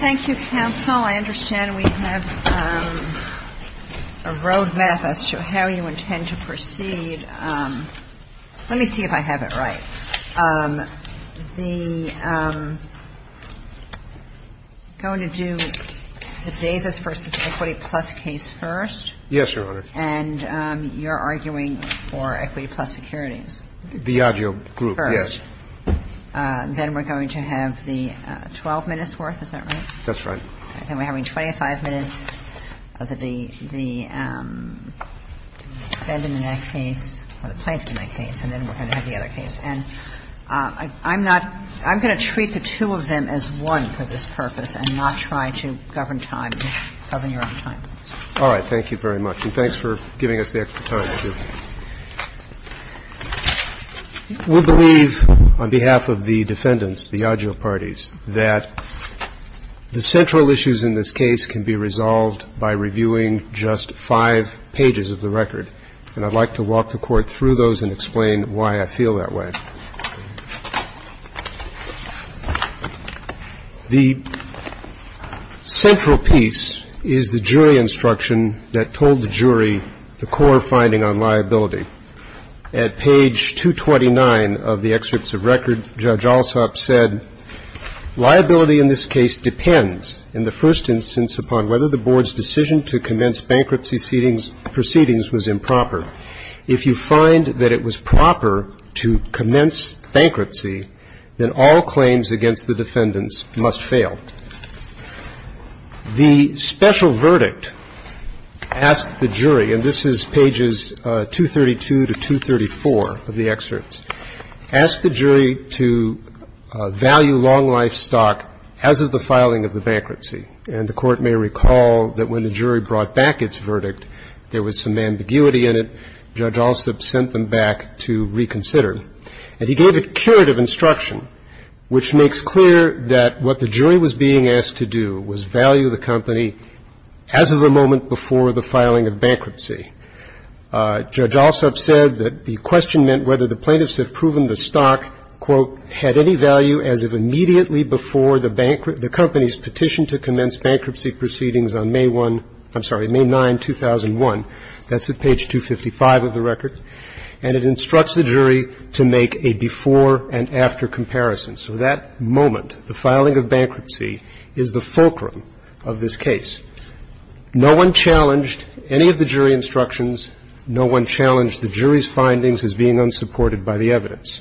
Thank you, counsel. I understand we have a road map as to how you intend to proceed. Let me see if I have it right. I'm going to do the Davis v. Equity Plus case first. Yes, Your Honor. And you're arguing for Equity Plus securities. The Yageo group, yes. Then we're going to have the 12-minutes worth. Is that right? That's right. Then we're having 25 minutes of the Benjamin Act case or the Plaintiff in that case. And then we're going to have the other case. And I'm not going to treat the two of them as one for this purpose and not try to govern time, govern your own time. All right. And thanks for giving us the extra time. Thank you. We believe, on behalf of the defendants, the Yageo parties, that the central issues in this case can be resolved by reviewing just five pages of the record. And I'd like to walk the Court through those and explain why I feel that way. The central piece is the jury instruction that told the jury the core finding on liability. At page 229 of the excerpts of record, Judge Alsop said, liability in this case depends, in the first instance, upon whether the board's decision to commence bankruptcy proceedings was improper. If you find that it was proper to commence bankruptcy, then all claims against the defendants must fail. The special verdict asked the jury, and this is pages 232 to 234 of the excerpts, asked the jury to value long-life stock as of the filing of the bankruptcy. And the Court may recall that when the jury brought back its verdict, there was some ambiguity in it. Judge Alsop sent them back to reconsider. And he gave a curative instruction, which makes clear that what the jury was being asked to do was value the company as of the moment before the filing of bankruptcy. Judge Alsop said that the question meant whether the plaintiffs had proven the stock, quote, had any value as of immediately before the company's petition to commence bankruptcy proceedings on May 1, I'm sorry, May 9, 2001. That's at page 255 of the record. And it instructs the jury to make a before and after comparison. So that moment, the filing of bankruptcy, is the fulcrum of this case. No one challenged any of the jury instructions. No one challenged the jury's findings as being unsupported by the evidence.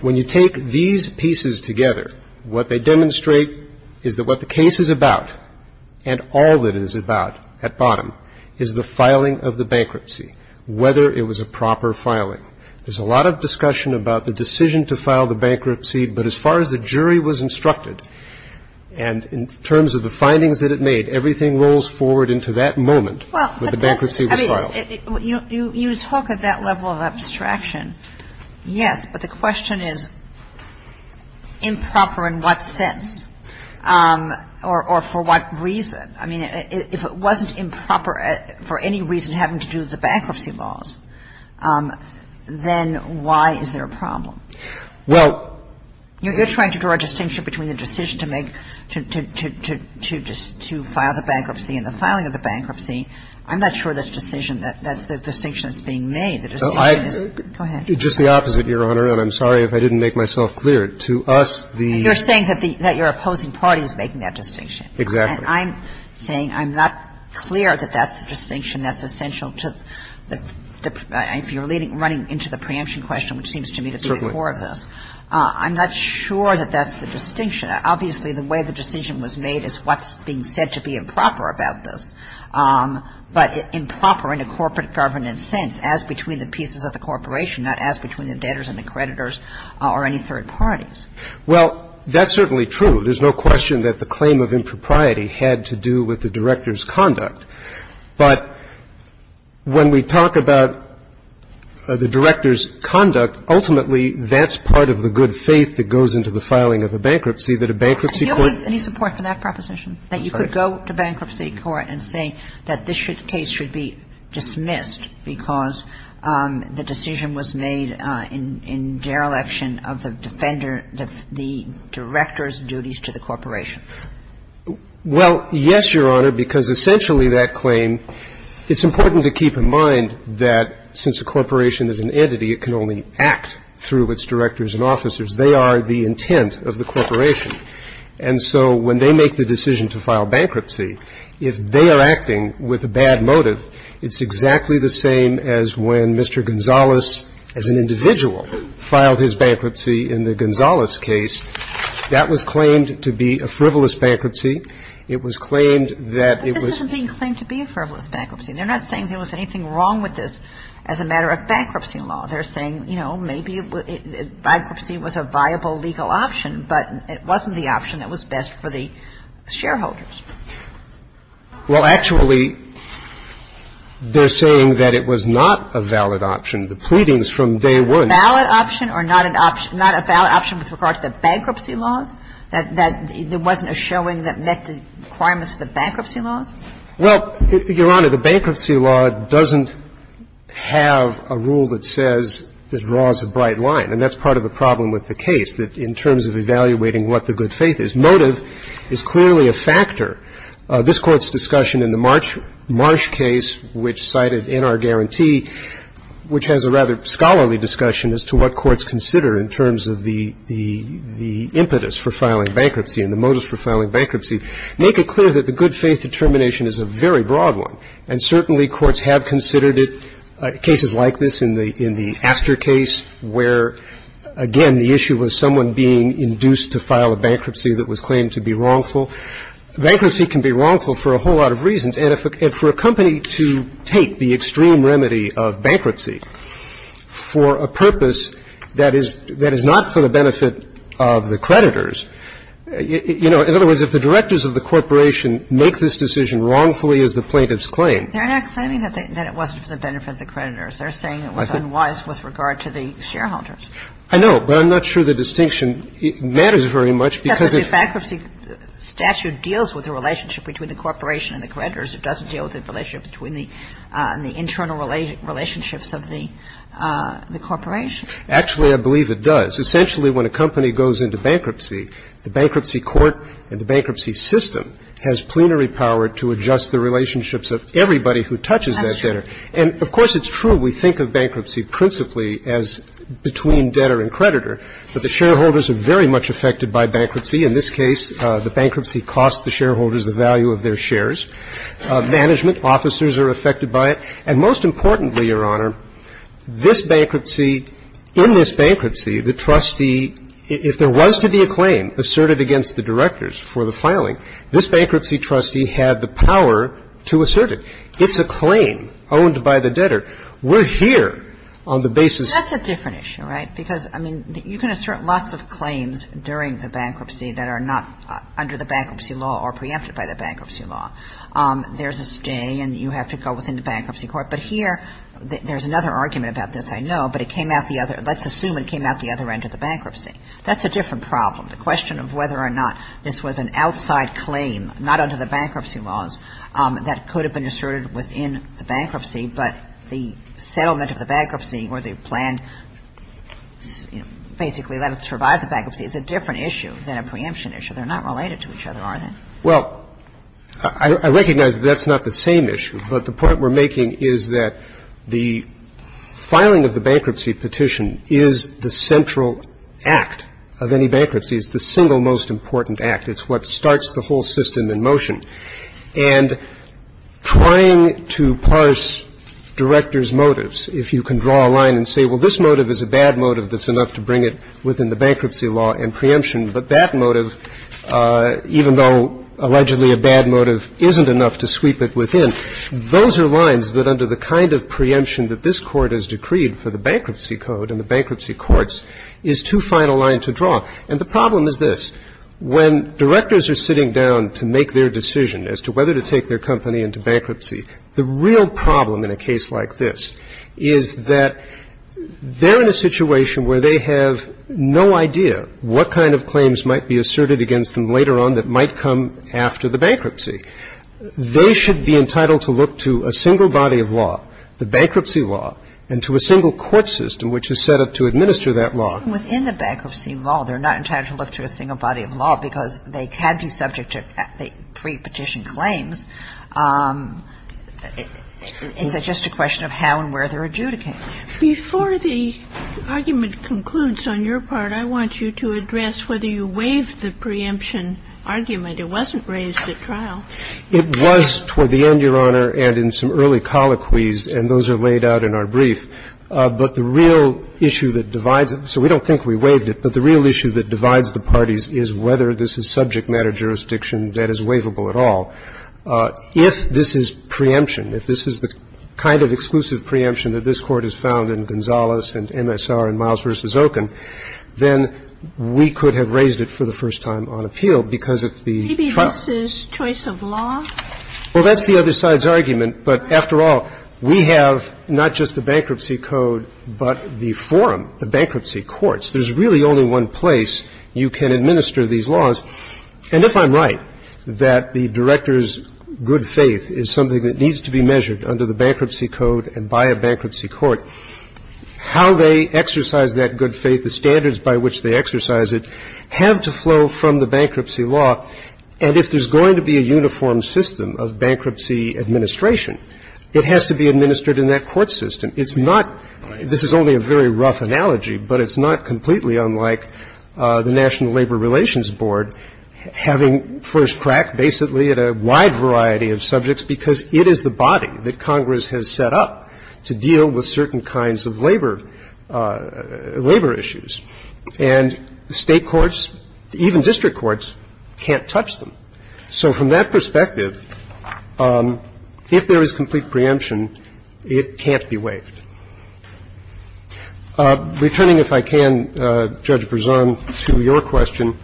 When you take these pieces together, what they demonstrate is that what the case is about, and all that it is about at bottom, is the filing of the bankruptcy, whether it was a proper filing. There's a lot of discussion about the decision to file the bankruptcy. But as far as the jury was instructed, and in terms of the findings that it made, everything rolls forward into that moment when the bankruptcy was filed. Well, you talk at that level of abstraction, yes. But the question is improper in what sense or for what reason? I mean, if it wasn't improper for any reason having to do with the bankruptcy laws, then why is there a problem? Well, you're trying to draw a distinction between the decision to make to file the bankruptcy and the filing of the bankruptcy. I'm not sure that's the distinction that's being made. Go ahead. Just the opposite, Your Honor, and I'm sorry if I didn't make myself clear. To us, the ---- You're saying that your opposing party is making that distinction. Exactly. And I'm saying I'm not clear that that's the distinction that's essential to the ---- if you're running into the preemption question, which seems to me to be the core of this. Certainly. I'm not sure that that's the distinction. Obviously, the way the decision was made is what's being said to be improper about this, but improper in a corporate governance sense as between the pieces of the corporation, not as between the debtors and the creditors or any third parties. Well, that's certainly true. There's no question that the claim of impropriety had to do with the director's conduct. But when we talk about the director's conduct, ultimately that's part of the good faith that goes into the filing of a bankruptcy, that a bankruptcy court ---- Do you have any support for that proposition, that you could go to bankruptcy court and say that this case should be dismissed because the decision was made in dereliction of the defender of the director's duties to the corporation? Well, yes, Your Honor, because essentially that claim ---- it's important to keep in mind that since a corporation is an entity, it can only act through its directors and officers. They are the intent of the corporation. And so when they make the decision to file bankruptcy, if they are acting with a bad motive, it's exactly the same as when Mr. Gonzales, as an individual, filed his bankruptcy in the Gonzales case. That was claimed to be a frivolous bankruptcy. It was claimed that it was ---- But this isn't being claimed to be a frivolous bankruptcy. They're not saying there was anything wrong with this as a matter of bankruptcy They're saying, you know, maybe bankruptcy was a viable legal option, but it wasn't the option that was best for the shareholders. Well, actually, they're saying that it was not a valid option. The pleadings from day one ---- A valid option or not an option ---- not a valid option with regard to the bankruptcy laws, that there wasn't a showing that met the requirements of the bankruptcy Well, Your Honor, the bankruptcy law doesn't have a rule that says it draws a bright line, and that's part of the problem with the case, that in terms of evaluating what the good faith is, motive is clearly a factor. This Court's discussion in the Marsh case, which cited in our guarantee, which has a rather scholarly discussion as to what courts consider in terms of the impetus for filing bankruptcy and the motives for filing bankruptcy, make it clear that the good faith situation is a very broad one. And certainly courts have considered it, cases like this in the after case, where, again, the issue was someone being induced to file a bankruptcy that was claimed to be wrongful. Bankruptcy can be wrongful for a whole lot of reasons. And for a company to take the extreme remedy of bankruptcy for a purpose that is not for the benefit of the creditors, you know, in other words, if the directors of the claim. They're not claiming that it wasn't for the benefit of the creditors. They're saying it was unwise with regard to the shareholders. I know. But I'm not sure the distinction matters very much because if the bankruptcy statute deals with the relationship between the corporation and the creditors, it doesn't deal with the relationship between the internal relationships of the corporation. Actually, I believe it does. Essentially, when a company goes into bankruptcy, the bankruptcy court and the bankruptcy system has plenary power to adjust the relationships of everybody who touches that debtor. And, of course, it's true we think of bankruptcy principally as between debtor and creditor. But the shareholders are very much affected by bankruptcy. In this case, the bankruptcy cost the shareholders the value of their shares. Management officers are affected by it. And most importantly, Your Honor, this bankruptcy, in this bankruptcy, the trustee, if there was to be a claim asserted against the directors for the filing, this bankruptcy trustee had the power to assert it. It's a claim owned by the debtor. We're here on the basis of the bankruptcy. That's a different issue, right, because, I mean, you can assert lots of claims during the bankruptcy that are not under the bankruptcy law or preempted by the bankruptcy law. There's a stay, and you have to go within the bankruptcy court. But here, there's another argument about this, I know, but it came out the other end of the bankruptcy. That's a different problem, the question of whether or not this was an outside claim, not under the bankruptcy laws, that could have been asserted within the bankruptcy, but the settlement of the bankruptcy or the plan basically let it survive the bankruptcy is a different issue than a preemption issue. They're not related to each other, are they? Well, I recognize that that's not the same issue, but the point we're making is that the filing of the bankruptcy petition is the central act of any bankruptcy. It's the single most important act. It's what starts the whole system in motion. And trying to parse director's motives, if you can draw a line and say, well, this motive is a bad motive that's enough to bring it within the bankruptcy law and preemption, but that motive, even though allegedly a bad motive isn't enough to sweep it within, those are lines that under the kind of preemption that this Court has decreed for the bankruptcy code and the bankruptcy courts is too fine a line to draw. And the problem is this. When directors are sitting down to make their decision as to whether to take their company into bankruptcy, the real problem in a case like this is that they're in a situation where they have no idea what kind of claims might be asserted against them later on that might come after the bankruptcy. They should be entitled to look to a single body of law, the bankruptcy law, and to a single court system which is set up to administer that law. Even within the bankruptcy law, they're not entitled to look to a single body of law because they can be subject to pre-petition claims. It's just a question of how and where they're adjudicated. Before the argument concludes on your part, I want you to address whether you waived the preemption argument. It wasn't raised at trial. It was toward the end, Your Honor, and in some early colloquies, and those are laid out in our brief. But the real issue that divides it, so we don't think we waived it, but the real issue that divides the parties is whether this is subject matter jurisdiction that is waivable at all. If this is preemption, if this is the kind of exclusive preemption that this Court has found in Gonzales and MSR and Miles v. Okun, then we could have raised it for the first time on appeal because of the trial. Maybe this is choice of law? Well, that's the other side's argument. But after all, we have not just the Bankruptcy Code but the forum, the bankruptcy courts. There's really only one place you can administer these laws. And if I'm right that the director's good faith is something that needs to be measured under the Bankruptcy Code and by a bankruptcy court, how they exercise that good faith, the standards by which they exercise it have to flow from the bankruptcy law. And if there's going to be a uniform system of bankruptcy administration, it has to be administered in that court system. It's not – this is only a very rough analogy, but it's not completely unlike the National Labor Relations Board having first crack basically at a wide variety of subjects because it is the body that Congress has set up to deal with certain kinds of labor – labor issues. And state courts, even district courts, can't touch them. So from that perspective, if there is complete preemption, it can't be waived. Returning, if I can, Judge Berzon, to your question,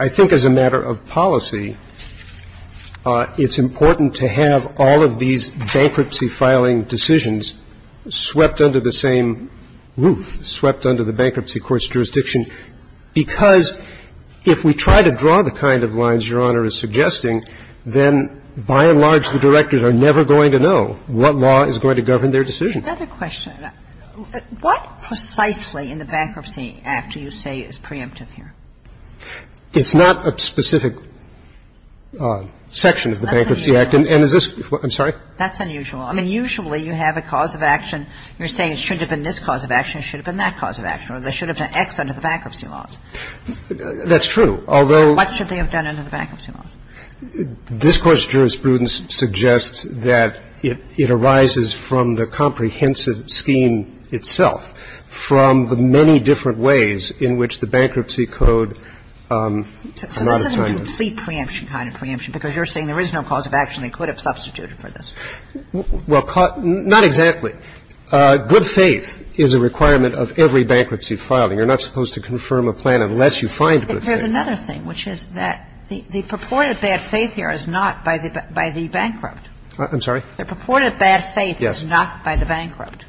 I think as a matter of policy, it's important to have all of these bankruptcy filing decisions swept under the same roof, swept under the bankruptcy court's jurisdiction, because if we try to draw the kind of lines Your Honor is suggesting, then by and large, the directors are never going to know what law is going to govern their decision. Another question. What precisely in the Bankruptcy Act do you say is preemptive here? It's not a specific section of the Bankruptcy Act. And is this – I'm sorry? That's unusual. I mean, usually you have a cause of action. You're saying it shouldn't have been this cause of action. It should have been that cause of action, or there should have been X under the bankruptcy laws. That's true, although – What should they have done under the bankruptcy laws? This Court's jurisprudence suggests that it arises from the comprehensive scheme itself, from the many different ways in which the bankruptcy code amount of time is. So this is a complete preemption kind of preemption, because you're saying there is no cause of action that could have substituted for this. Well, not exactly. Good faith is a requirement of every bankruptcy filing. You're not supposed to confirm a plan unless you find good faith. There's another thing, which is that the purported bad faith here is not by the bankrupt. I'm sorry? The purported bad faith is not by the bankrupt.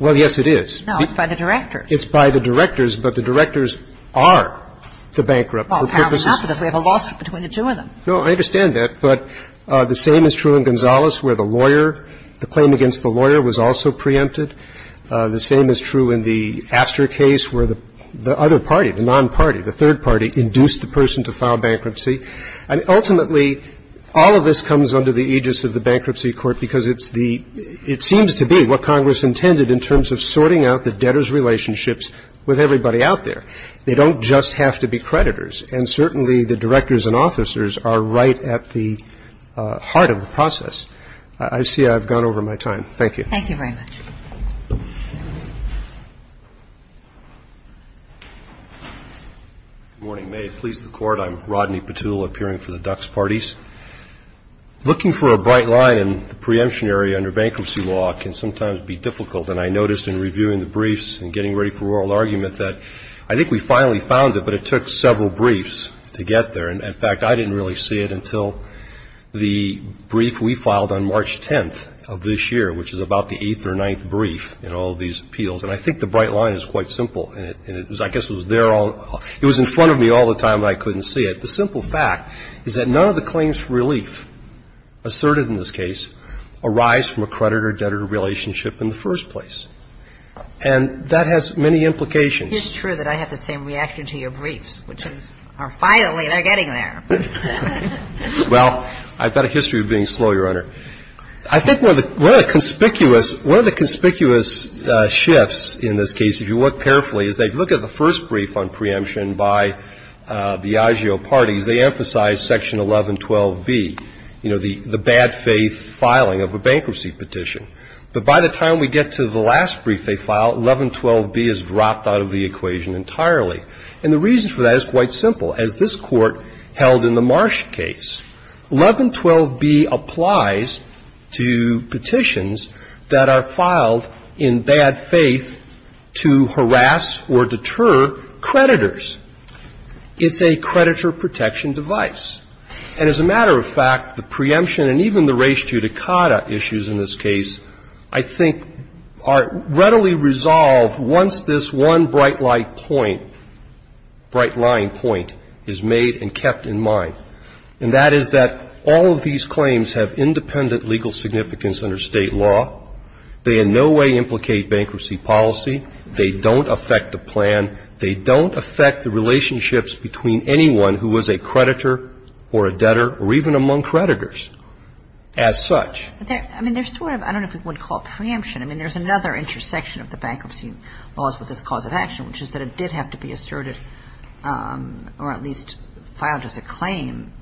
Well, yes, it is. No, it's by the directors. It's by the directors, but the directors are the bankrupt. Well, apparently not, because we have a lawsuit between the two of them. No, I understand that. But the same is true in Gonzales, where the lawyer, the claim against the lawyer, was also preempted. The same is true in the Astor case, where the other party, the non-party, the third party, induced the person to file bankruptcy. I mean, ultimately, all of this comes under the aegis of the Bankruptcy Court, because it's the – it seems to be what Congress intended in terms of sorting out the debtors' relationships with everybody out there. They don't just have to be creditors. And certainly the directors and officers are right at the heart of the process. I see I've gone over my time. Thank you. Thank you very much. Good morning. May it please the Court. I'm Rodney Petula, appearing for the Dux Parties. Looking for a bright line in the preemption area under bankruptcy law can sometimes be difficult. And I noticed in reviewing the briefs and getting ready for oral argument that I think we finally found it, but it took several briefs to get there. And, in fact, I didn't really see it until the brief we filed on March 10th of this year, which is about the 8th or 9th of this year, which is the 9th brief in all of these appeals. And I think the bright line is quite simple. And it was – I guess it was there all – it was in front of me all the time, but I couldn't see it. The simple fact is that none of the claims for relief asserted in this case arise from a creditor-debtor relationship in the first place. And that has many implications. It's true that I have the same reaction to your briefs, which is, finally, they're getting there. Well, I've got a history of being slow, Your Honor. I think one of the conspicuous – one of the conspicuous shifts in this case, if you look carefully, is that if you look at the first brief on preemption by the agio parties, they emphasize Section 1112B, you know, the bad faith filing of a bankruptcy petition. But by the time we get to the last brief they file, 1112B is dropped out of the equation entirely. And the reason for that is quite simple. As this Court held in the Marsh case, 1112B applies to petitions that are filed in bad faith to harass or deter creditors. It's a creditor protection device. And as a matter of fact, the preemption and even the res judicata issues in this case, I think, are readily resolved once this one bright light point – bright line point is made and kept in mind. And that is that all of these claims have independent legal significance under State law. They in no way implicate bankruptcy policy. They don't affect the plan. They don't affect the relationships between anyone who was a creditor or a debtor or even among creditors as such. I mean, there's sort of – I don't know if we would call it preemption. I mean, there's another intersection of the bankruptcy laws with this cause of action, which is that it did have to be asserted or at least filed as a claim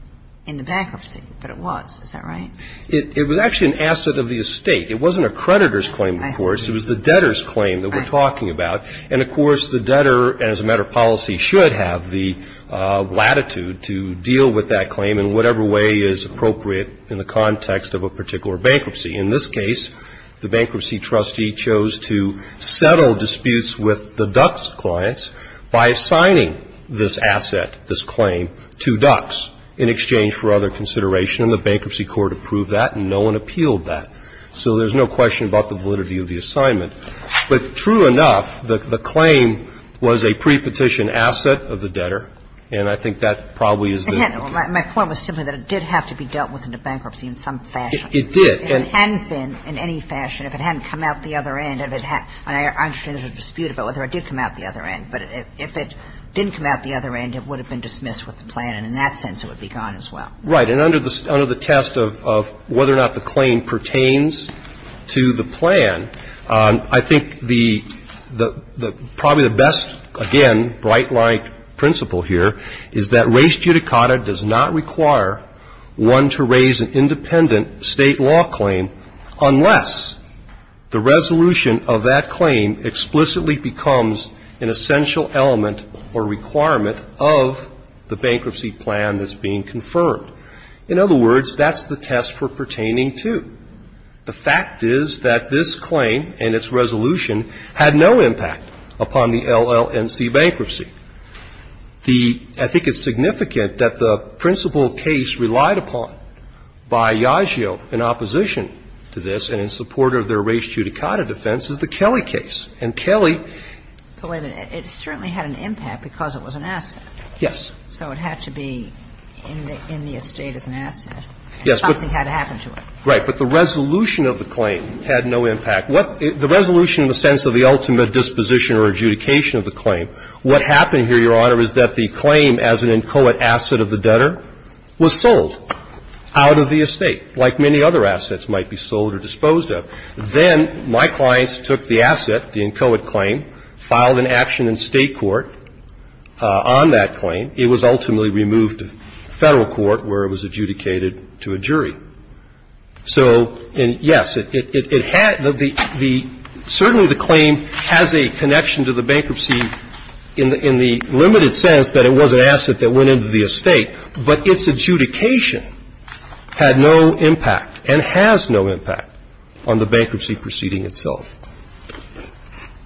in the bankruptcy. But it was. Is that right? It was actually an asset of the estate. It wasn't a creditor's claim, of course. It was the debtor's claim that we're talking about. And, of course, the debtor, as a matter of policy, should have the latitude to deal with that claim in whatever way is appropriate in the context of a particular bankruptcy. In this case, the bankruptcy trustee chose to settle disputes with the Ducks clients by assigning this asset, this claim, to Ducks in exchange for other consideration. And the bankruptcy court approved that, and no one appealed that. So there's no question about the validity of the assignment. But true enough, the claim was a prepetition asset of the debtor, and I think that probably is the – My point was simply that it did have to be dealt with in a bankruptcy in some fashion. If it hadn't been in any fashion, if it hadn't come out the other end, and I understand there's a dispute about whether it did come out the other end, but if it didn't come out the other end, it would have been dismissed with the plan, and in that sense it would be gone as well. Right. And under the test of whether or not the claim pertains to the plan, I think the – probably the best, again, bright-light principle here is that res judicata does not require one to raise an independent state law claim unless the resolution of that claim explicitly becomes an essential element or requirement of the bankruptcy plan that's being confirmed. In other words, that's the test for pertaining to. The fact is that this claim and its resolution had no impact upon the LLNC bankruptcy. The – I think it's significant that the principal case relied upon by Yagio in opposition to this and in support of their res judicata defense is the Kelly case. And Kelly – But wait a minute. It certainly had an impact because it was an asset. Yes. So it had to be in the estate as an asset. Yes, but – And something had to happen to it. Right. But the resolution of the claim had no impact. What – the resolution in the sense of the ultimate disposition or adjudication of the claim, what happened here, Your Honor, is that the claim as an inchoate asset of the debtor was sold out of the estate, like many other assets might be sold or disposed of. Then my clients took the asset, the inchoate claim, filed an action in State court on that claim. It was ultimately removed to Federal court where it was adjudicated to a jury. So, yes, it had – the – certainly the claim has a connection to the bankruptcy in the limited sense that it was an asset that went into the estate, but its adjudication had no impact and has no impact on the bankruptcy proceeding itself.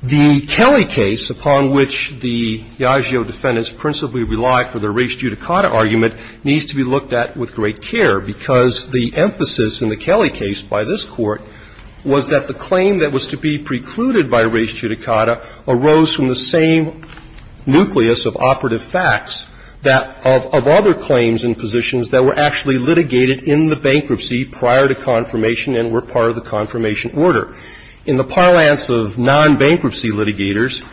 The Kelly case, upon which the Yagio defendants principally relied for their res judicata argument, needs to be looked at with great care because the emphasis in the Kelly case by this Court was that the claim that was to be precluded by res judicata arose from the same nucleus of operative facts that – of other claims and positions that were actually litigated in the bankruptcy prior to confirmation and were part of the confirmation order. In the parlance of non-bankruptcy litigators,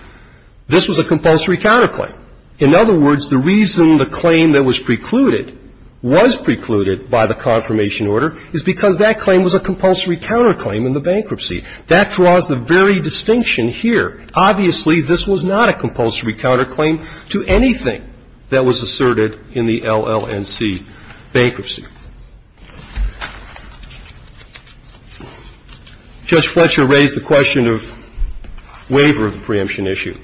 this was a compulsory counterclaim. In other words, the reason the claim that was precluded was precluded by the confirmation order is because that claim was a compulsory counterclaim in the bankruptcy. That draws the very distinction here. Obviously, this was not a compulsory counterclaim to anything that was asserted in the LLNC bankruptcy. Judge Fletcher raised the question of waiver of the preemption issue.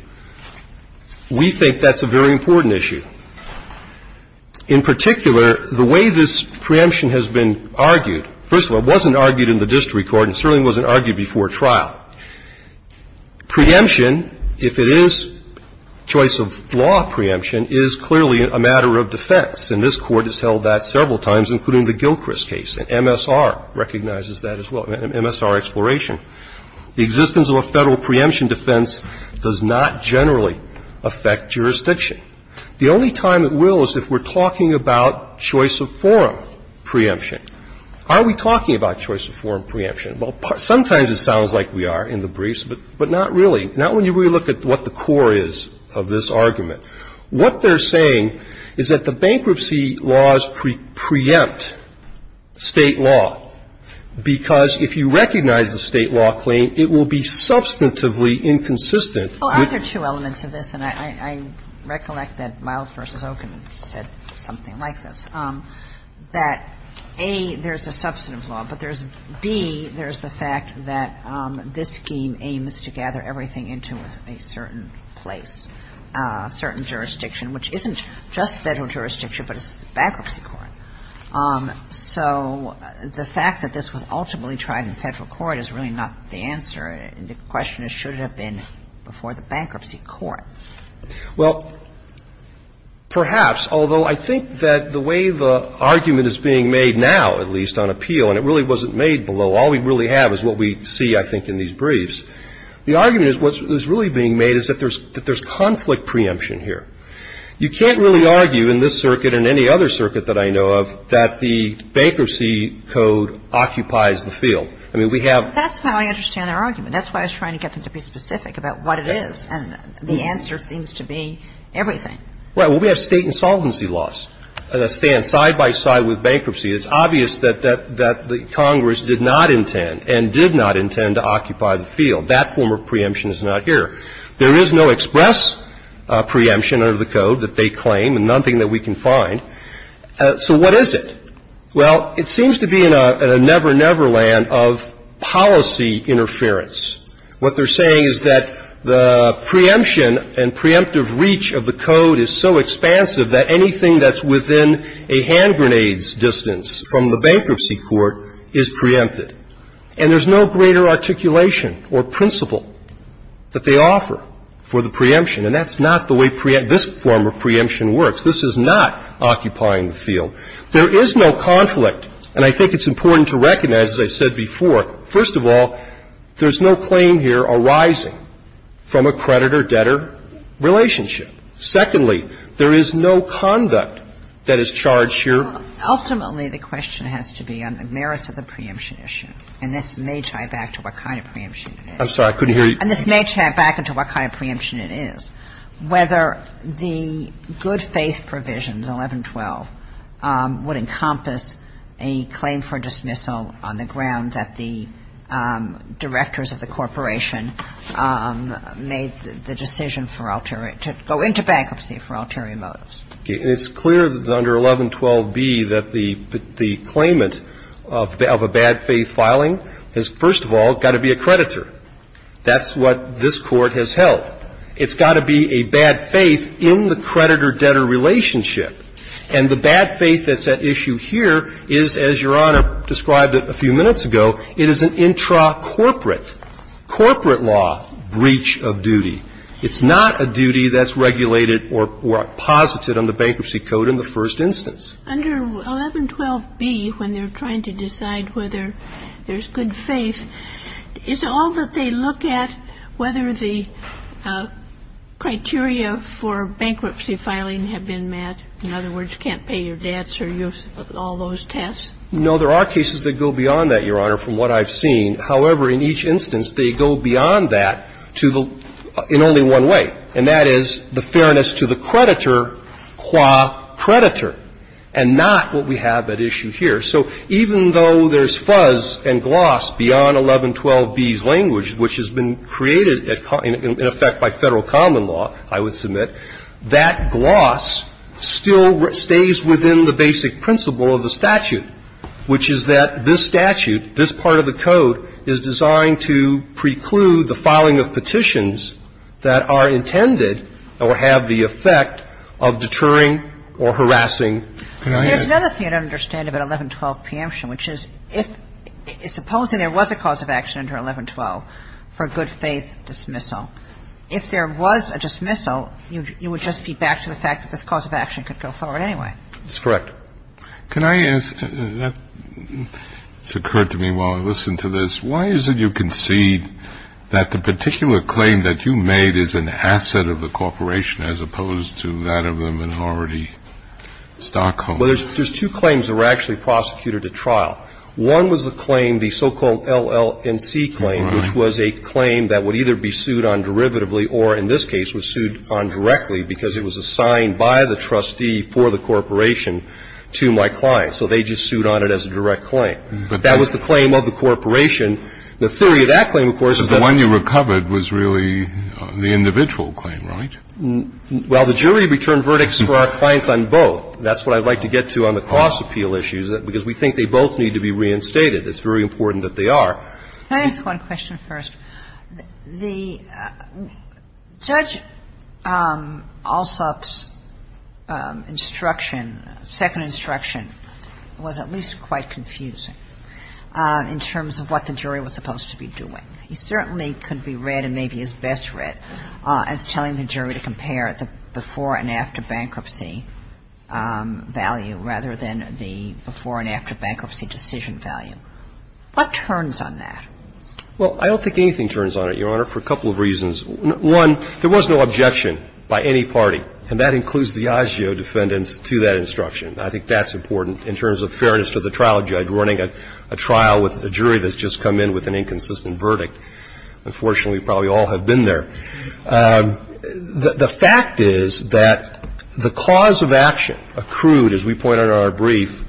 We think that's a very important issue. In particular, the way this preemption has been argued, first of all, it wasn't argued in the district court and certainly wasn't argued before trial. Preemption, if it is choice of law preemption, is clearly a matter of defense, and this Court has held that several times, including the Gilchrist case. And MSR recognizes that as well, MSR Exploration. The existence of a Federal preemption defense does not generally affect jurisdiction. The only time it will is if we're talking about choice of forum preemption. Are we talking about choice of forum preemption? Well, sometimes it sounds like we are in the briefs, but not really. Not when you really look at what the core is of this argument. What they're saying is that the bankruptcy laws preempt State law, because if you recognize the State law claim, it will be substantively inconsistent. Well, I think there are two elements of this, and I recollect that Miles v. Oken said something like this, that, A, there's a substantive law, but there's B, there's a substantive law, and that's the fact that this scheme aims to gather everything into a certain place, a certain jurisdiction, which isn't just Federal jurisdiction, but it's the bankruptcy court. So the fact that this was ultimately tried in Federal court is really not the answer, and the question is, should it have been before the bankruptcy court? Well, perhaps, although I think that the way the argument is being made now, at least on appeal, and it really wasn't made below, all we really have is what we see, I think, in these briefs. The argument is what's really being made is that there's conflict preemption here. You can't really argue in this circuit and any other circuit that I know of that the bankruptcy code occupies the field. I mean, we have ---- That's how I understand their argument. That's why I was trying to get them to be specific about what it is, and the answer seems to be everything. Well, we have State insolvency laws that stand side by side with bankruptcy. It's obvious that the Congress did not intend and did not intend to occupy the field. That form of preemption is not here. There is no express preemption under the code that they claim and nothing that we can find. So what is it? Well, it seems to be in a never-never land of policy interference. What they're saying is that the preemption and preemptive reach of the code is so expansive that anything that's within a hand grenade's distance from the bankruptcy court is preempted. And there's no greater articulation or principle that they offer for the preemption, and that's not the way this form of preemption works. This is not occupying the field. There is no conflict. And I think it's important to recognize, as I said before, first of all, there's no claim here arising from a creditor-debtor relationship. Secondly, there is no conduct that is charged here. Ultimately, the question has to be on the merits of the preemption issue. And this may tie back to what kind of preemption it is. I'm sorry. I couldn't hear you. And this may tie back into what kind of preemption it is. The question is whether the good-faith provision, 1112, would encompass a claim for dismissal on the ground that the directors of the corporation made the decision for Altaria to go into bankruptcy for Altaria motives. It's clear under 1112B that the claimant of a bad faith filing has, first of all, got to be a creditor. That's what this Court has held. It's got to be a bad faith in the creditor-debtor relationship. And the bad faith that's at issue here is, as Your Honor described it a few minutes ago, it is an intra-corporate, corporate law, breach of duty. It's not a duty that's regulated or posited on the Bankruptcy Code in the first instance. Under 1112B, when they're trying to decide whether there's good faith, is all that they look at whether the criteria for bankruptcy filing have been met? In other words, you can't pay your debts or use all those tests? No, there are cases that go beyond that, Your Honor, from what I've seen. However, in each instance, they go beyond that to the – in only one way, and that is the fairness to the creditor qua creditor, and not what we have at issue here. So even though there's fuzz and gloss beyond 1112B's language, which has been created at – in effect by Federal common law, I would submit, that gloss still stays within the basic principle of the statute, which is that this statute, this part of the code, is designed to preclude the filing of petitions that are intended or have the effect of deterring or harassing creditors. There's another thing I don't understand about 1112 preemption, which is if – supposing there was a cause of action under 1112 for good faith dismissal, if there was a dismissal, you would just be back to the fact that this cause of action could go forward anyway. That's correct. Can I ask – that's occurred to me while I listen to this. Why is it you concede that the particular claim that you made is an asset of the Stockholm? Well, there's two claims that were actually prosecuted at trial. One was the claim, the so-called LLNC claim, which was a claim that would either be sued on derivatively or, in this case, was sued on directly because it was assigned by the trustee for the corporation to my client. So they just sued on it as a direct claim. That was the claim of the corporation. The theory of that claim, of course, is that – But the one you recovered was really the individual claim, right? Well, the jury returned verdicts for our clients on both. That's what I'd like to get to on the cross-appeal issues, because we think they both need to be reinstated. It's very important that they are. Can I ask one question first? The Judge Alsop's instruction, second instruction, was at least quite confusing in terms of what the jury was supposed to be doing. He certainly could be read, and maybe is best read, as telling the jury to compare the before and after bankruptcy value rather than the before and after bankruptcy decision value. What turns on that? Well, I don't think anything turns on it, Your Honor, for a couple of reasons. One, there was no objection by any party, and that includes the ASIO defendants to that instruction. I think that's important in terms of fairness to the trial judge running a trial with a jury that's just come in with an inconsistent verdict. Unfortunately, probably all have been there. The fact is that the cause of action accrued, as we point out in our brief,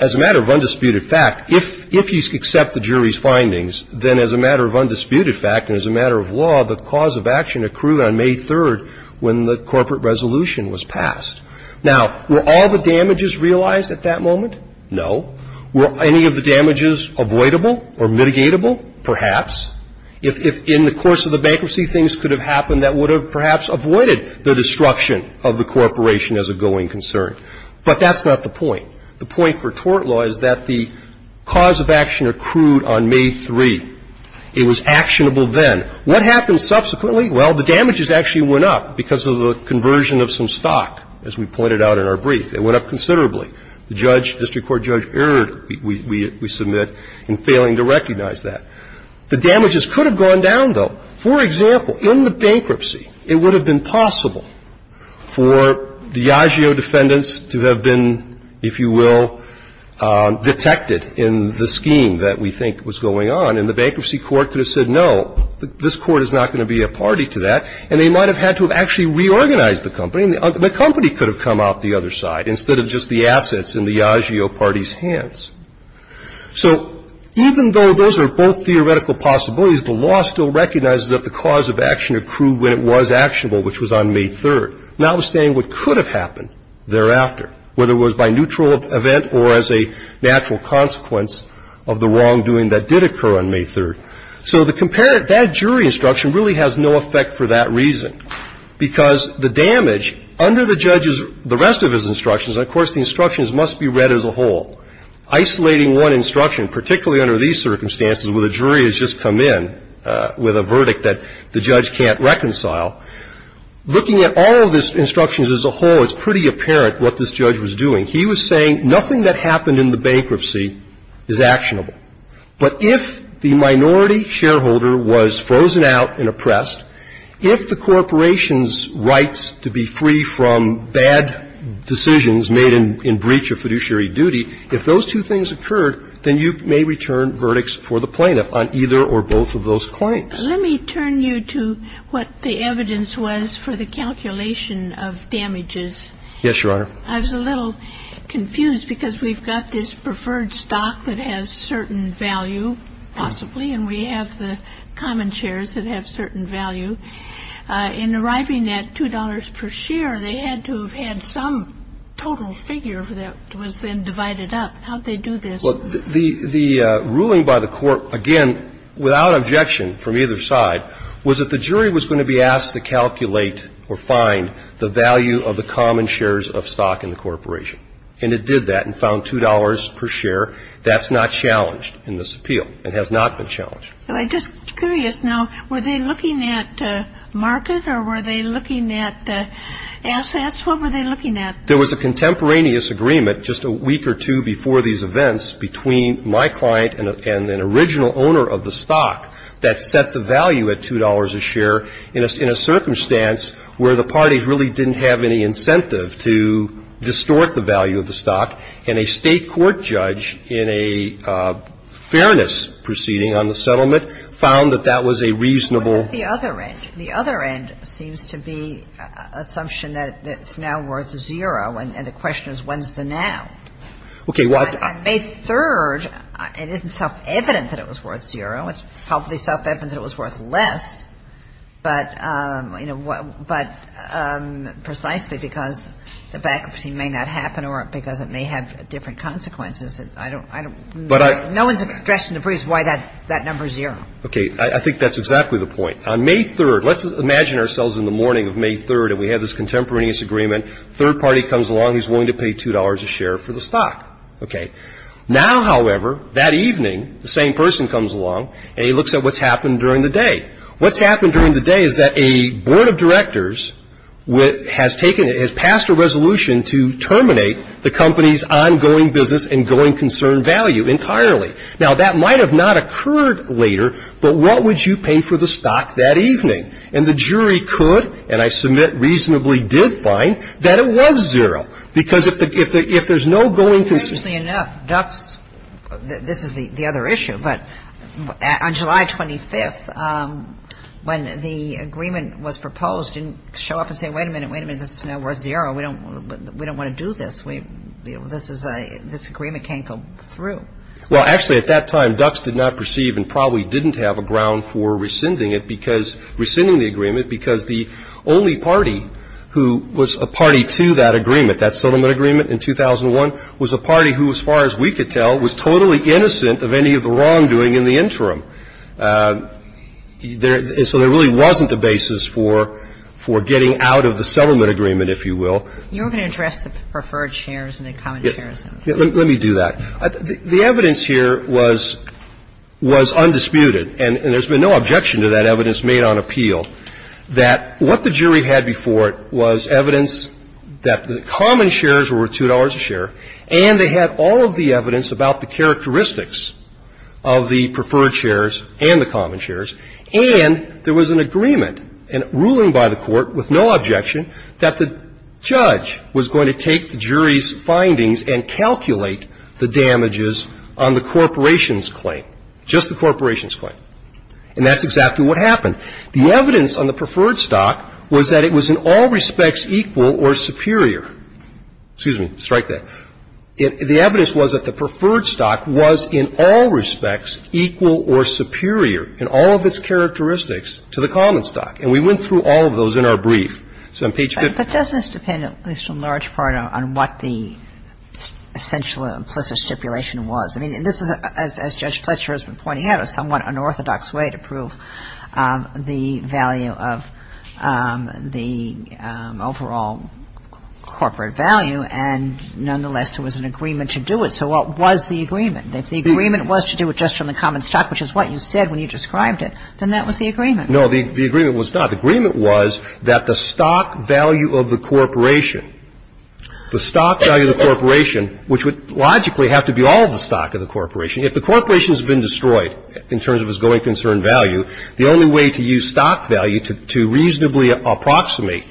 as a matter of undisputed fact, if you accept the jury's findings, then as a matter of undisputed fact and as a matter of law, the cause of action accrued on May 3rd when the corporate resolution was passed. Now, were all the damages realized at that moment? No. Were any of the damages avoidable or mitigatable? Perhaps. If in the course of the bankruptcy things could have happened, that would have perhaps avoided the destruction of the corporation as a going concern. But that's not the point. The point for tort law is that the cause of action accrued on May 3. It was actionable then. What happened subsequently? Well, the damages actually went up because of the conversion of some stock, as we pointed out in our brief. It went up considerably. The judge, district court judge, erred, we submit, in failing to recognize that. The damages could have gone down, though. For example, in the bankruptcy, it would have been possible for the agio defendants to have been, if you will, detected in the scheme that we think was going on. And the bankruptcy court could have said, no, this court is not going to be a party to that, and they might have had to have actually reorganized the company. The company could have come out the other side instead of just the assets in the agio parties' hands. So even though those are both theoretical possibilities, the law still recognizes that the cause of action accrued when it was actionable, which was on May 3, notwithstanding what could have happened thereafter, whether it was by neutral event or as a natural consequence of the wrongdoing that did occur on May 3. So that jury instruction really has no effect for that reason, because the damage under the judge's, the rest of his instructions, and of course the instructions must be read as a whole, isolating one instruction, particularly under these circumstances where the jury has just come in with a verdict that the judge can't reconcile. Looking at all of his instructions as a whole, it's pretty apparent what this judge was doing. He was saying nothing that happened in the bankruptcy is actionable. But if the minority shareholder was frozen out and oppressed, if the corporation's assets to be free from bad decisions made in breach of fiduciary duty, if those two things occurred, then you may return verdicts for the plaintiff on either or both of those claims. Let me turn you to what the evidence was for the calculation of damages. Yes, Your Honor. I was a little confused, because we've got this preferred stock that has certain value, possibly, and we have the common shares that have certain value. In arriving at $2 per share, they had to have had some total figure that was then divided up. How did they do this? Well, the ruling by the court, again, without objection from either side, was that the jury was going to be asked to calculate or find the value of the common shares of stock in the corporation. And it did that and found $2 per share. That's not challenged in this appeal. It has not been challenged. Well, I'm just curious now, were they looking at market, or were they looking at assets? What were they looking at? There was a contemporaneous agreement just a week or two before these events between my client and an original owner of the stock that set the value at $2 a share in a circumstance where the parties really didn't have any incentive to distort the value of the stock. And a State court judge in a fairness proceeding on the settlement found that that was a reasonable. But what about the other end? The other end seems to be an assumption that it's now worth zero, and the question is when's the now? Okay. Well, I made third. It isn't self-evident that it was worth zero. It's probably self-evident that it was worth less, but, you know, but precisely because the bankruptcy may not happen or because it may have different consequences. I don't know. No one's expressed in the briefs why that number's zero. Okay. I think that's exactly the point. On May 3rd, let's imagine ourselves in the morning of May 3rd, and we have this contemporaneous agreement. Third party comes along. He's willing to pay $2 a share for the stock. Okay. Now, however, that evening, the same person comes along, and he looks at what's happened during the day. What's happened during the day is that a board of directors has passed a resolution to terminate the company's ongoing business and going concern value entirely. Now, that might have not occurred later, but what would you pay for the stock that evening? And the jury could, and I submit reasonably did find, that it was zero, because if there's no going concern. Interestingly enough, Ducks, this is the other issue, but on July 25th, when the agreement was proposed, didn't show up and say, wait a minute, wait a minute, this is now worth zero. We don't want to do this. This agreement can't go through. Well, actually, at that time, Ducks did not perceive and probably didn't have a ground for rescinding it because the only party who was a party to that agreement, that settlement agreement in 2001, was a party who, as far as we could tell, was totally innocent of any of the wrongdoing in the interim. So there really wasn't a basis for getting out of the settlement agreement, if you will. You're going to address the preferred shares and the common shares. Let me do that. The evidence here was undisputed, and there's been no objection to that evidence that the jury had before it was evidence that the common shares were worth $2 a share, and they had all of the evidence about the characteristics of the preferred shares and the common shares, and there was an agreement, a ruling by the Court with no objection, that the judge was going to take the jury's findings and calculate the damages on the corporation's claim, just the corporation's claim. And that's exactly what happened. The evidence on the preferred stock was that it was in all respects equal or superior. Excuse me. Strike that. The evidence was that the preferred stock was in all respects equal or superior in all of its characteristics to the common stock. And we went through all of those in our brief. So on page 50. But doesn't this depend at least in large part on what the essential implicit stipulation was? I mean, this is, as Judge Fletcher has been pointing out, a somewhat unorthodox way to prove the value of the overall corporate value, and nonetheless, there was an agreement to do it. So what was the agreement? If the agreement was to do it just from the common stock, which is what you said when you described it, then that was the agreement. No, the agreement was not. The agreement was that the stock value of the corporation, the stock value of the corporation, if the corporation has been destroyed in terms of its going concern value, the only way to use stock value to reasonably approximate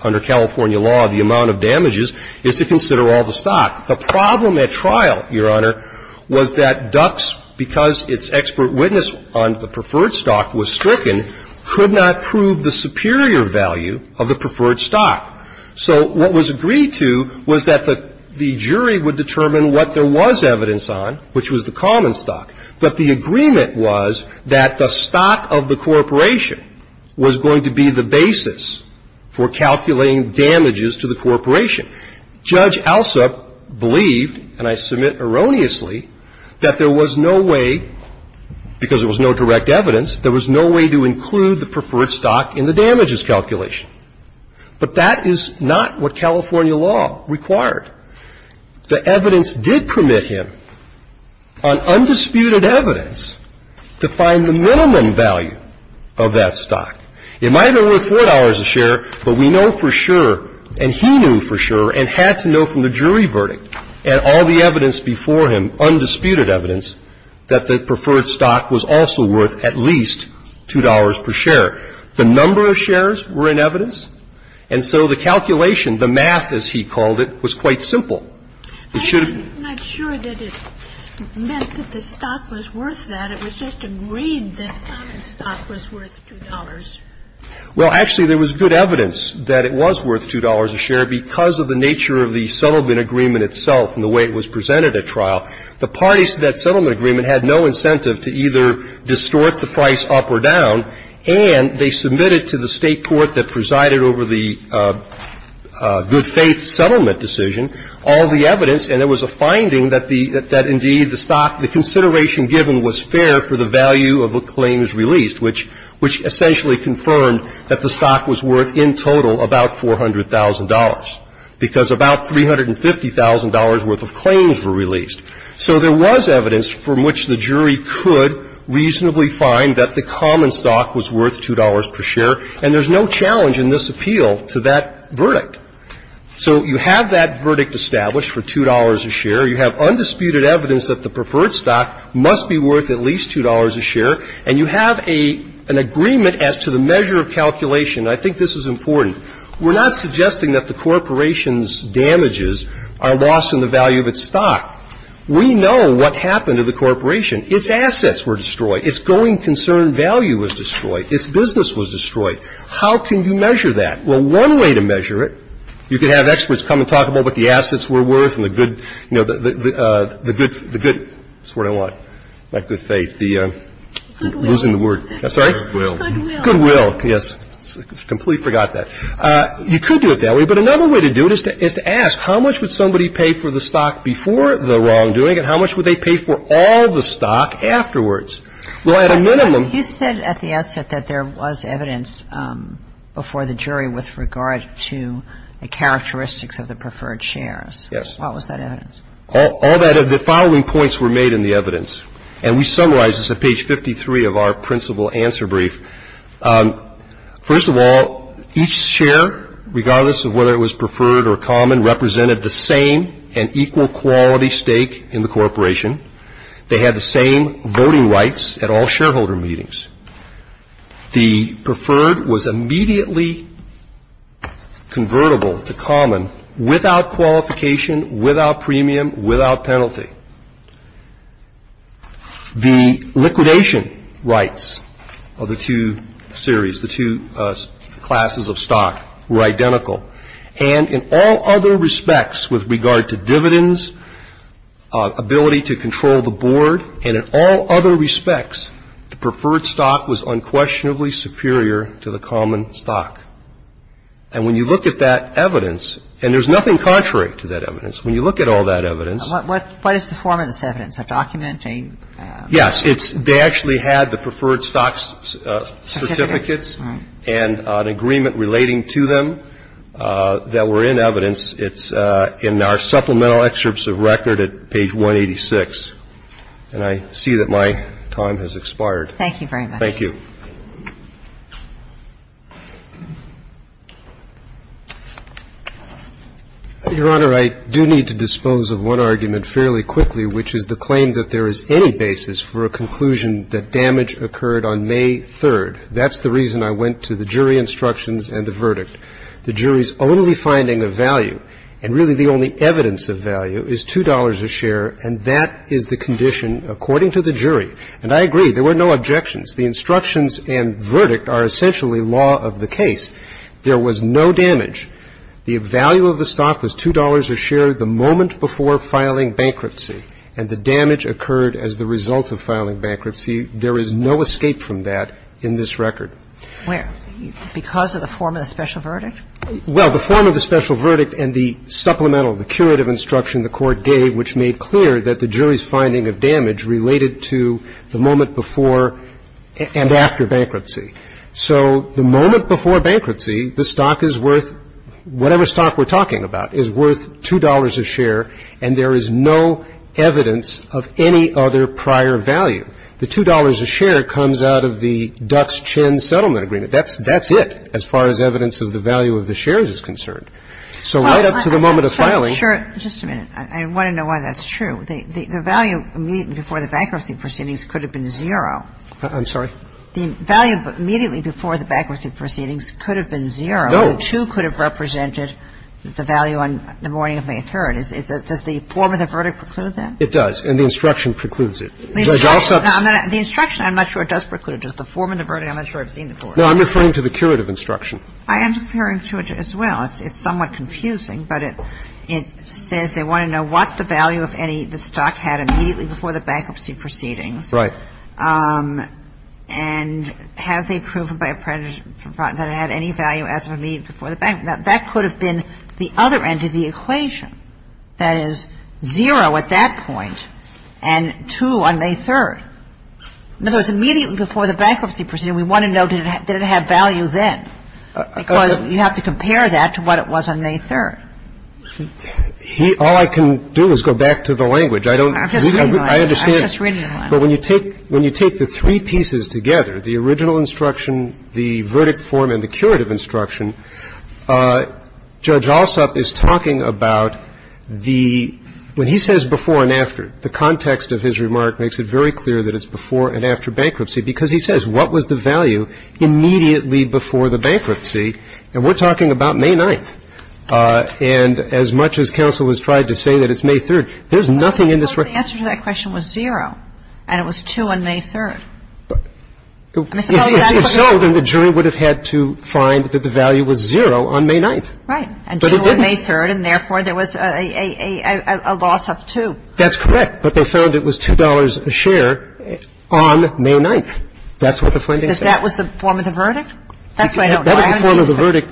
under California law the amount of damages is to consider all the stock. The problem at trial, Your Honor, was that Ducks, because its expert witness on the preferred stock was stricken, could not prove the superior value of the preferred stock. So what was agreed to was that the jury would determine what there was evidence on, which was the common stock, but the agreement was that the stock of the corporation was going to be the basis for calculating damages to the corporation. Judge Alsup believed, and I submit erroneously, that there was no way, because there was no direct evidence, there was no way to include the preferred stock in the damages calculation. But that is not what California law required. The evidence did permit him, on undisputed evidence, to find the minimum value of that stock. It might have been worth $4 a share, but we know for sure, and he knew for sure, and had to know from the jury verdict and all the evidence before him, undisputed evidence, that the preferred stock was also worth at least $2 per share. The number of shares were in evidence, and so the calculation, the math as he called it, was quite simple. It should have been. I'm not sure that it meant that the stock was worth that. It was just agreed that the common stock was worth $2. Well, actually, there was good evidence that it was worth $2 a share because of the nature of the settlement agreement itself and the way it was presented at trial. The parties to that settlement agreement had no incentive to either distort the price up or down, and they submitted to the State court that presided over the good-faith settlement decision all the evidence, and there was a finding that the stock, the consideration given was fair for the value of the claims released, which essentially confirmed that the stock was worth in total about $400,000, because about $350,000 worth of claims were released. So there was evidence from which the jury could reasonably find that the common stock was worth $2 per share, and there's no challenge in this appeal to that verdict. So you have that verdict established for $2 a share. You have undisputed evidence that the preferred stock must be worth at least $2 a share, and you have an agreement as to the measure of calculation. I think this is important. We're not suggesting that the corporation's damages are lost in the value of its stock. We know what happened to the corporation. Its assets were destroyed. Its going concern value was destroyed. Its business was destroyed. How can you measure that? Well, one way to measure it, you could have experts come and talk about what the assets were worth and the good, you know, the good, the good, that's what I want, not good faith, the losing the word. I'm sorry? Goodwill. Goodwill, yes. I completely forgot that. You could do it that way. But another way to do it is to ask, how much would somebody pay for the stock before the wrongdoing and how much would they pay for all the stock afterwards? Well, at a minimum. You said at the outset that there was evidence before the jury with regard to the characteristics of the preferred shares. Yes. What was that evidence? All that, the following points were made in the evidence, and we summarized this at page 53 of our principal answer brief. First of all, each share, regardless of whether it was preferred or common, represented the same and equal quality stake in the corporation. They had the same voting rights at all shareholder meetings. The preferred was immediately convertible to common without qualification, without premium, without penalty. The liquidation rights of the two series, the two classes of stock, were identical. And in all other respects with regard to dividends, ability to control the board, and in all other respects, the preferred stock was unquestionably superior to the common stock. And when you look at that evidence, and there's nothing contrary to that evidence, when you look at all that evidence. What is the form of this evidence? A document, a? Yes. They actually had the preferred stocks certificates and an agreement relating to them that were in evidence. It's in our supplemental excerpts of record at page 186. And I see that my time has expired. Thank you very much. Your Honor, I do need to dispose of one argument fairly quickly, which is the claim that there is any basis for a conclusion that damage occurred on May 3rd. That's the reason I went to the jury instructions and the verdict. The jury's only finding of value, and really the only evidence of value, is $2 a share, and that is the condition according to the jury. And I agree. There were no objections. The instructions and verdict are essentially law of the case. There was no damage. The value of the stock was $2 a share the moment before filing bankruptcy, and the damage occurred as the result of filing bankruptcy. There is no escape from that in this record. Where? Because of the form of the special verdict? Well, the form of the special verdict and the supplemental, the curative instruction in the court gave, which made clear that the jury's finding of damage related to the moment before and after bankruptcy. So the moment before bankruptcy, the stock is worth, whatever stock we're talking about, is worth $2 a share, and there is no evidence of any other prior value. The $2 a share comes out of the Dux-Chin settlement agreement. That's it as far as evidence of the value of the shares is concerned. So right up to the moment of filing. Sure. Just a minute. I want to know why that's true. The value immediately before the bankruptcy proceedings could have been zero. I'm sorry? The value immediately before the bankruptcy proceedings could have been zero. No. $2 could have represented the value on the morning of May 3rd. Does the form of the verdict preclude that? It does, and the instruction precludes it. The instruction, I'm not sure it does preclude it. Does the form of the verdict, I'm not sure I've seen the form. No, I'm referring to the curative instruction. I am referring to it as well. It's somewhat confusing, but it says they want to know what the value of any of the stock had immediately before the bankruptcy proceedings. Right. And have they proven that it had any value as of immediately before the bankruptcy? Now, that could have been the other end of the equation. That is, zero at that point and two on May 3rd. In other words, immediately before the bankruptcy proceedings, we want to know did it have value then. Because you have to compare that to what it was on May 3rd. All I can do is go back to the language. I don't need to. I'm just reading the language. I understand. But when you take the three pieces together, the original instruction, the verdict form, and the curative instruction, Judge Alsop is talking about the – when he says before and after, the context of his remark makes it very clear that it's before and after the bankruptcy. And we're talking about May 9th. And as much as counsel has tried to say that it's May 3rd, there's nothing in this – Well, the answer to that question was zero, and it was two on May 3rd. If so, then the jury would have had to find that the value was zero on May 9th. Right. But it didn't. And two on May 3rd, and therefore there was a loss of two. That's correct. But they found it was $2 a share on May 9th. That's what the finding says. That was the form of the verdict? That's what I don't know. I haven't seen it. That was the form of the verdict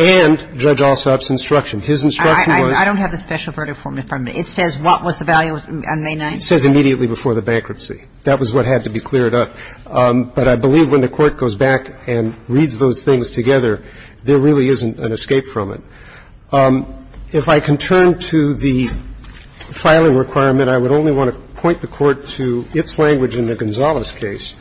and Judge Alsop's instruction. His instruction was – I don't have the special verdict form in front of me. It says what was the value on May 9th. It says immediately before the bankruptcy. That was what had to be cleared up. But I believe when the Court goes back and reads those things together, there really isn't an escape from it. If I can turn to the filing requirement, I would only want to point the Court to its It states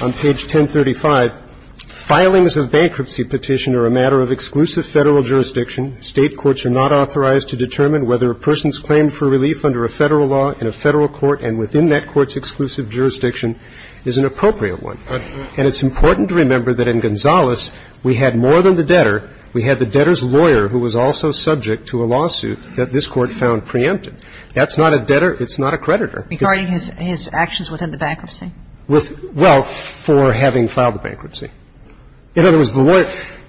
on Page 1035, "... filings of bankruptcy petitioner a matter of exclusive Federal jurisdiction. State courts are not authorized to determine whether a person's claim for relief under a Federal law in a Federal court and within that court's exclusive jurisdiction is an appropriate one. And it's important to remember that in Gonzalez we had more than the debtor. We had the debtor's lawyer who was also subject to a lawsuit that this Court found preempted." That's not a debtor. It's not a creditor. Regarding his actions within the bankruptcy? Well, for having filed the bankruptcy. In other words,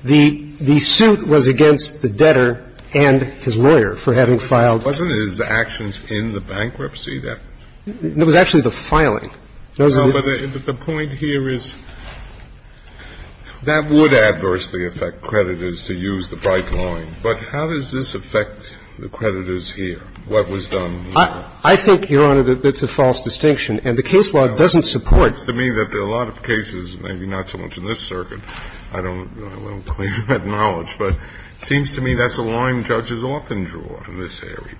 the suit was against the debtor and his lawyer for having filed. Wasn't it his actions in the bankruptcy? It was actually the filing. No, but the point here is that would adversely affect creditors to use the bright line. But how does this affect the creditors here? What was done? I think, Your Honor, that that's a false distinction. And the case law doesn't support. It seems to me that there are a lot of cases, maybe not so much in this circuit. I don't have a lot of clear cut knowledge. But it seems to me that's a line judges often draw in this area.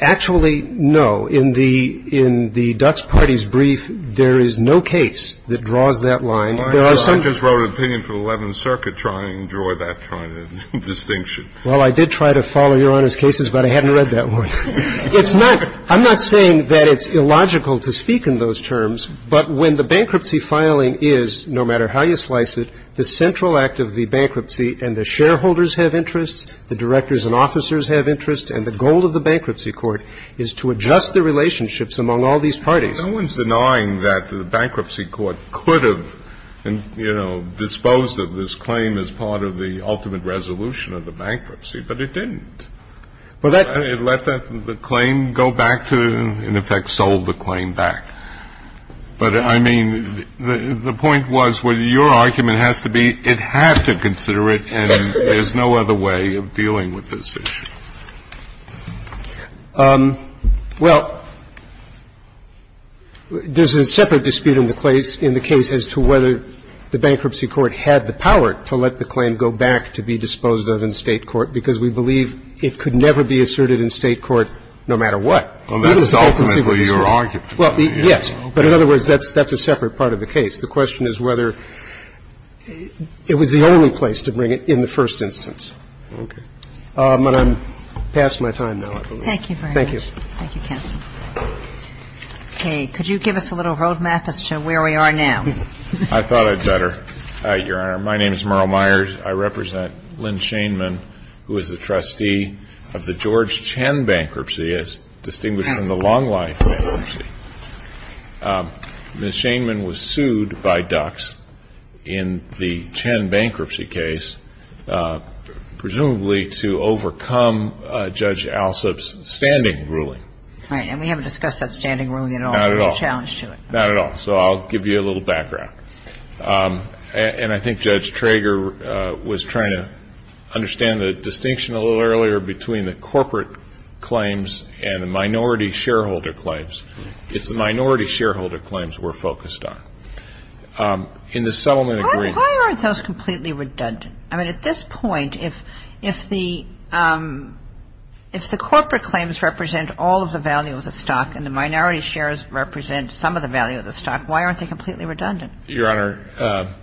Actually, no. In the Dutch party's brief, there is no case that draws that line. There are some. I just wrote an opinion for the Eleventh Circuit trying to draw that kind of distinction. Well, I did try to follow Your Honor's cases, but I hadn't read that one. It's not — I'm not saying that it's illogical to speak in those terms, but when the bankruptcy filing is, no matter how you slice it, the central act of the bankruptcy and the shareholders have interests, the directors and officers have interests, and the goal of the bankruptcy court is to adjust the relationships among all these parties. No one's denying that the bankruptcy court could have, you know, disposed of this claim as part of the ultimate resolution of the bankruptcy, but it didn't. It let the claim go back to, in effect, sold the claim back. But, I mean, the point was whether your argument has to be it had to consider it, and there's no other way of dealing with this issue. Well, there's a separate dispute in the case as to whether the bankruptcy court had the power to let the claim go back to be disposed of in State court, because we believe it could never be asserted in State court no matter what. Well, that's ultimately your argument. Well, yes. But in other words, that's a separate part of the case. The question is whether it was the only place to bring it in the first instance. Okay. But I'm past my time now, I believe. Thank you very much. Thank you. Thank you, counsel. Okay. Could you give us a little road map as to where we are now? I thought I'd better, Your Honor. My name is Merle Myers. I represent Lynn Shainman, who is the trustee of the George Chen Bankruptcy, as distinguished from the Long Life Bankruptcy. Ms. Shainman was sued by Dux in the Chen Bankruptcy case, presumably to overcome Judge Alsup's standing ruling. Right. And we haven't discussed that standing ruling at all. Not at all. No challenge to it. Not at all. So I'll give you a little background. And I think Judge Trager was trying to understand the distinction a little earlier between the corporate claims and the minority shareholder claims. It's the minority shareholder claims we're focused on. In the settlement agreement ---- Why aren't those completely redundant? I mean, at this point, if the corporate claims represent all of the value of the stock and the minority shares represent some of the value of the stock, why aren't they completely redundant? Your Honor,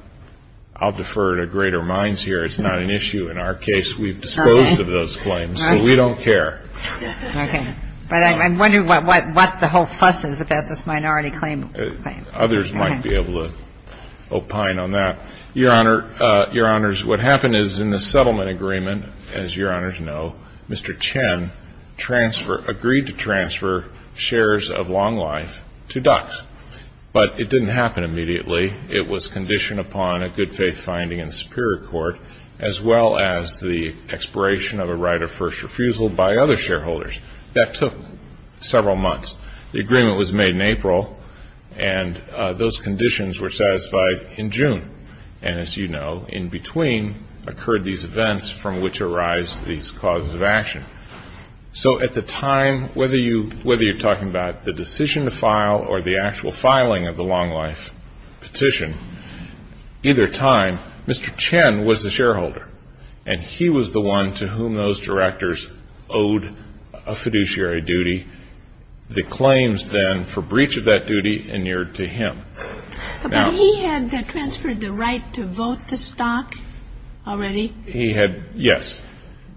I'll defer to greater minds here. It's not an issue in our case. We've disposed of those claims. Right. So we don't care. Okay. But I'm wondering what the whole fuss is about this minority claim. Others might be able to opine on that. Your Honor, Your Honors, what happened is in the settlement agreement, as Your Honors know, Mr. Chen agreed to transfer shares of Long Life to Dux. But it didn't happen immediately. It was conditioned upon a good faith finding in the Superior Court as well as the expiration of a right of first refusal by other shareholders. That took several months. The agreement was made in April, and those conditions were satisfied in June. And, as you know, in between occurred these events from which arise these causes of action. So at the time, whether you're talking about the decision to file or the actual filing of the Long Life petition, either time Mr. Chen was the shareholder, and he was the one to whom those directors owed a fiduciary duty. The claims then for breach of that duty inured to him. But he had transferred the right to vote the stock already? He had, yes.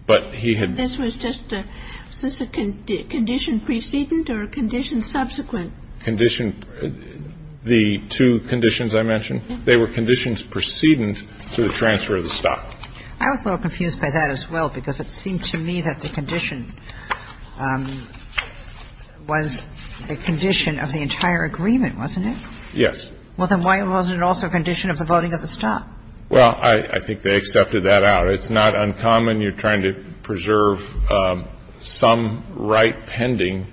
But he had This was just a Was this a condition precedent or a condition subsequent? Condition The two conditions I mentioned. They were conditions precedent to the transfer of the stock. I was a little confused by that as well, because it seemed to me that the condition was a condition of the entire agreement, wasn't it? Yes. Well, then why wasn't it also a condition of the voting of the stock? Well, I think they accepted that out. It's not uncommon. You're trying to preserve some right pending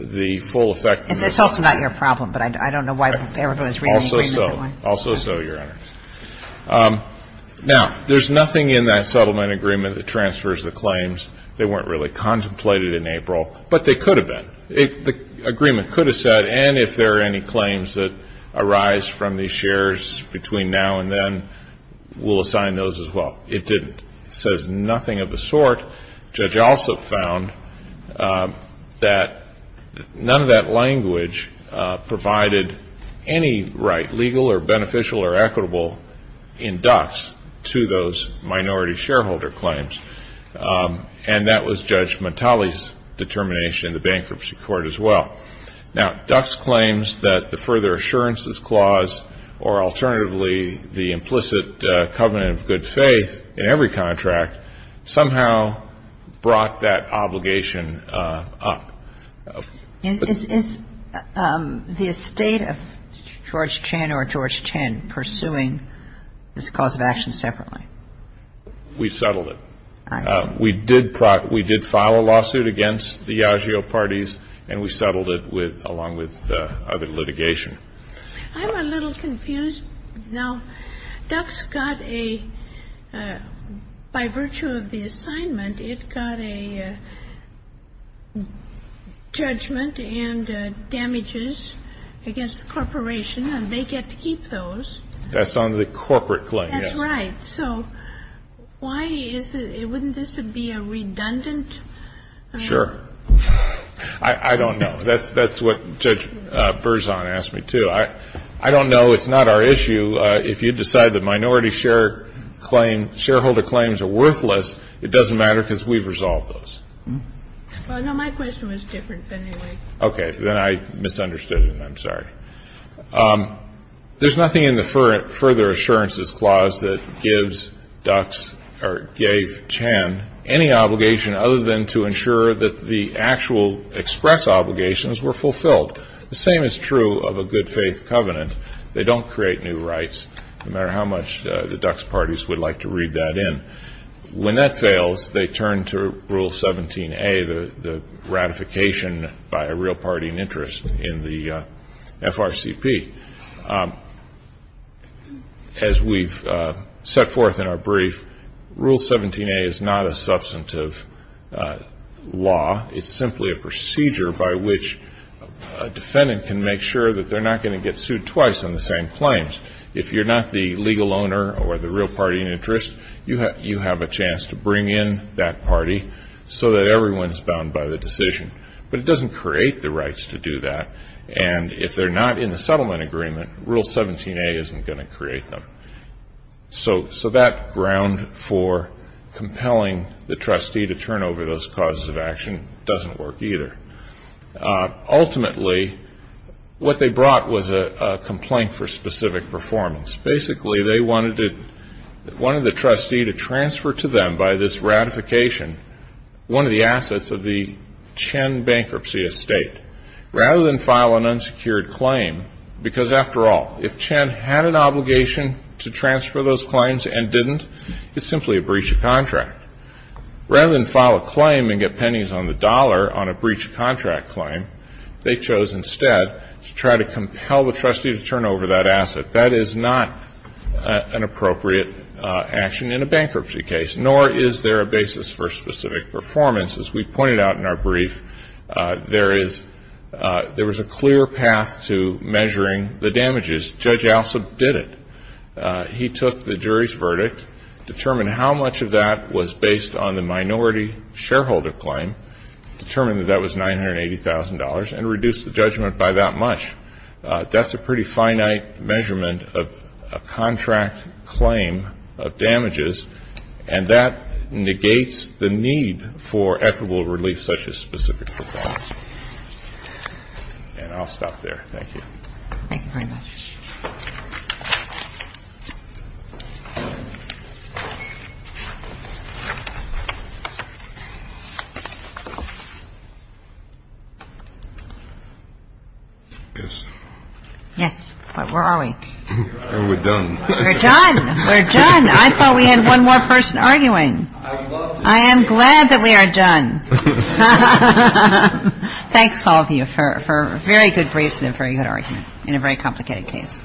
the full effectiveness It's also not your problem, but I don't know why everyone is reading the agreement. Also so. Also so, Your Honors. Now, there's nothing in that settlement agreement that transfers the claims. They weren't really contemplated in April, but they could have been. The agreement could have said, and if there are any claims that arise from these shares between now and then, we'll assign those as well. It didn't. It says nothing of the sort. Judge Alsop found that none of that language provided any right, legal or beneficial or equitable in Dux to those minority shareholder claims, and that was Judge Montali's determination in the bankruptcy court as well. Now, Dux claims that the further assurances clause or alternatively the implicit covenant of good faith in every contract somehow brought that obligation up. Is the estate of George Chan or George Chen pursuing this cause of action separately? We settled it. We did file a lawsuit against the agio parties, and we settled it along with other litigation. I'm a little confused. Now, Dux got a, by virtue of the assignment, it got a judgment and damages against the corporation, and they get to keep those. That's on the corporate claim. That's right. So why is it, wouldn't this be a redundant? Sure. I don't know. That's what Judge Berzon asked me, too. I don't know. It's not our issue. If you decide that minority share claim, shareholder claims are worthless, it doesn't matter because we've resolved those. Well, no, my question was different anyway. Okay. Then I misunderstood it, and I'm sorry. There's nothing in the further assurances clause that gives Dux or gave Chen any obligation other than to ensure that the actual express obligations were fulfilled. The same is true of a good faith covenant. They don't create new rights, no matter how much the Dux parties would like to read that in. When that fails, they turn to Rule 17A, the ratification by a real party in interest in the FRCP. As we've set forth in our brief, Rule 17A is not a substantive law. It's simply a procedure by which a defendant can make sure that they're not going to get sued twice on the same claims. If you're not the legal owner or the real party in interest, you have a chance to bring in that party so that everyone is bound by the decision. But it doesn't create the rights to do that. And if they're not in the settlement agreement, Rule 17A isn't going to create them. So that ground for compelling the trustee to turn over those causes of action doesn't work either. Ultimately, what they brought was a complaint for specific performance. Basically, they wanted the trustee to transfer to them by this ratification one of the assets of the Chen bankruptcy estate. Rather than file an unsecured claim, because, after all, if Chen had an obligation to transfer those claims and didn't, it's simply a breach of contract. Rather than file a claim and get pennies on the dollar on a breach of contract claim, they chose instead to try to compel the trustee to turn over that asset. That is not an appropriate action in a bankruptcy case, nor is there a basis for specific performance. As we pointed out in our brief, there is a clear path to measuring the damages. Judge Alsop did it. He took the jury's verdict, determined how much of that was based on the minority shareholder claim, determined that that was $980,000, and reduced the judgment by that much. That's a pretty finite measurement of a contract claim of damages, and that negates the need for equitable relief such as specific performance. And I'll stop there. Thank you. Thank you very much. Yes. Yes. Where are we? We're done. We're done. We're done. I thought we had one more person arguing. I would love to. I am glad that we are done. Thanks all of you for a very good brief and a very good argument in a very complicated case.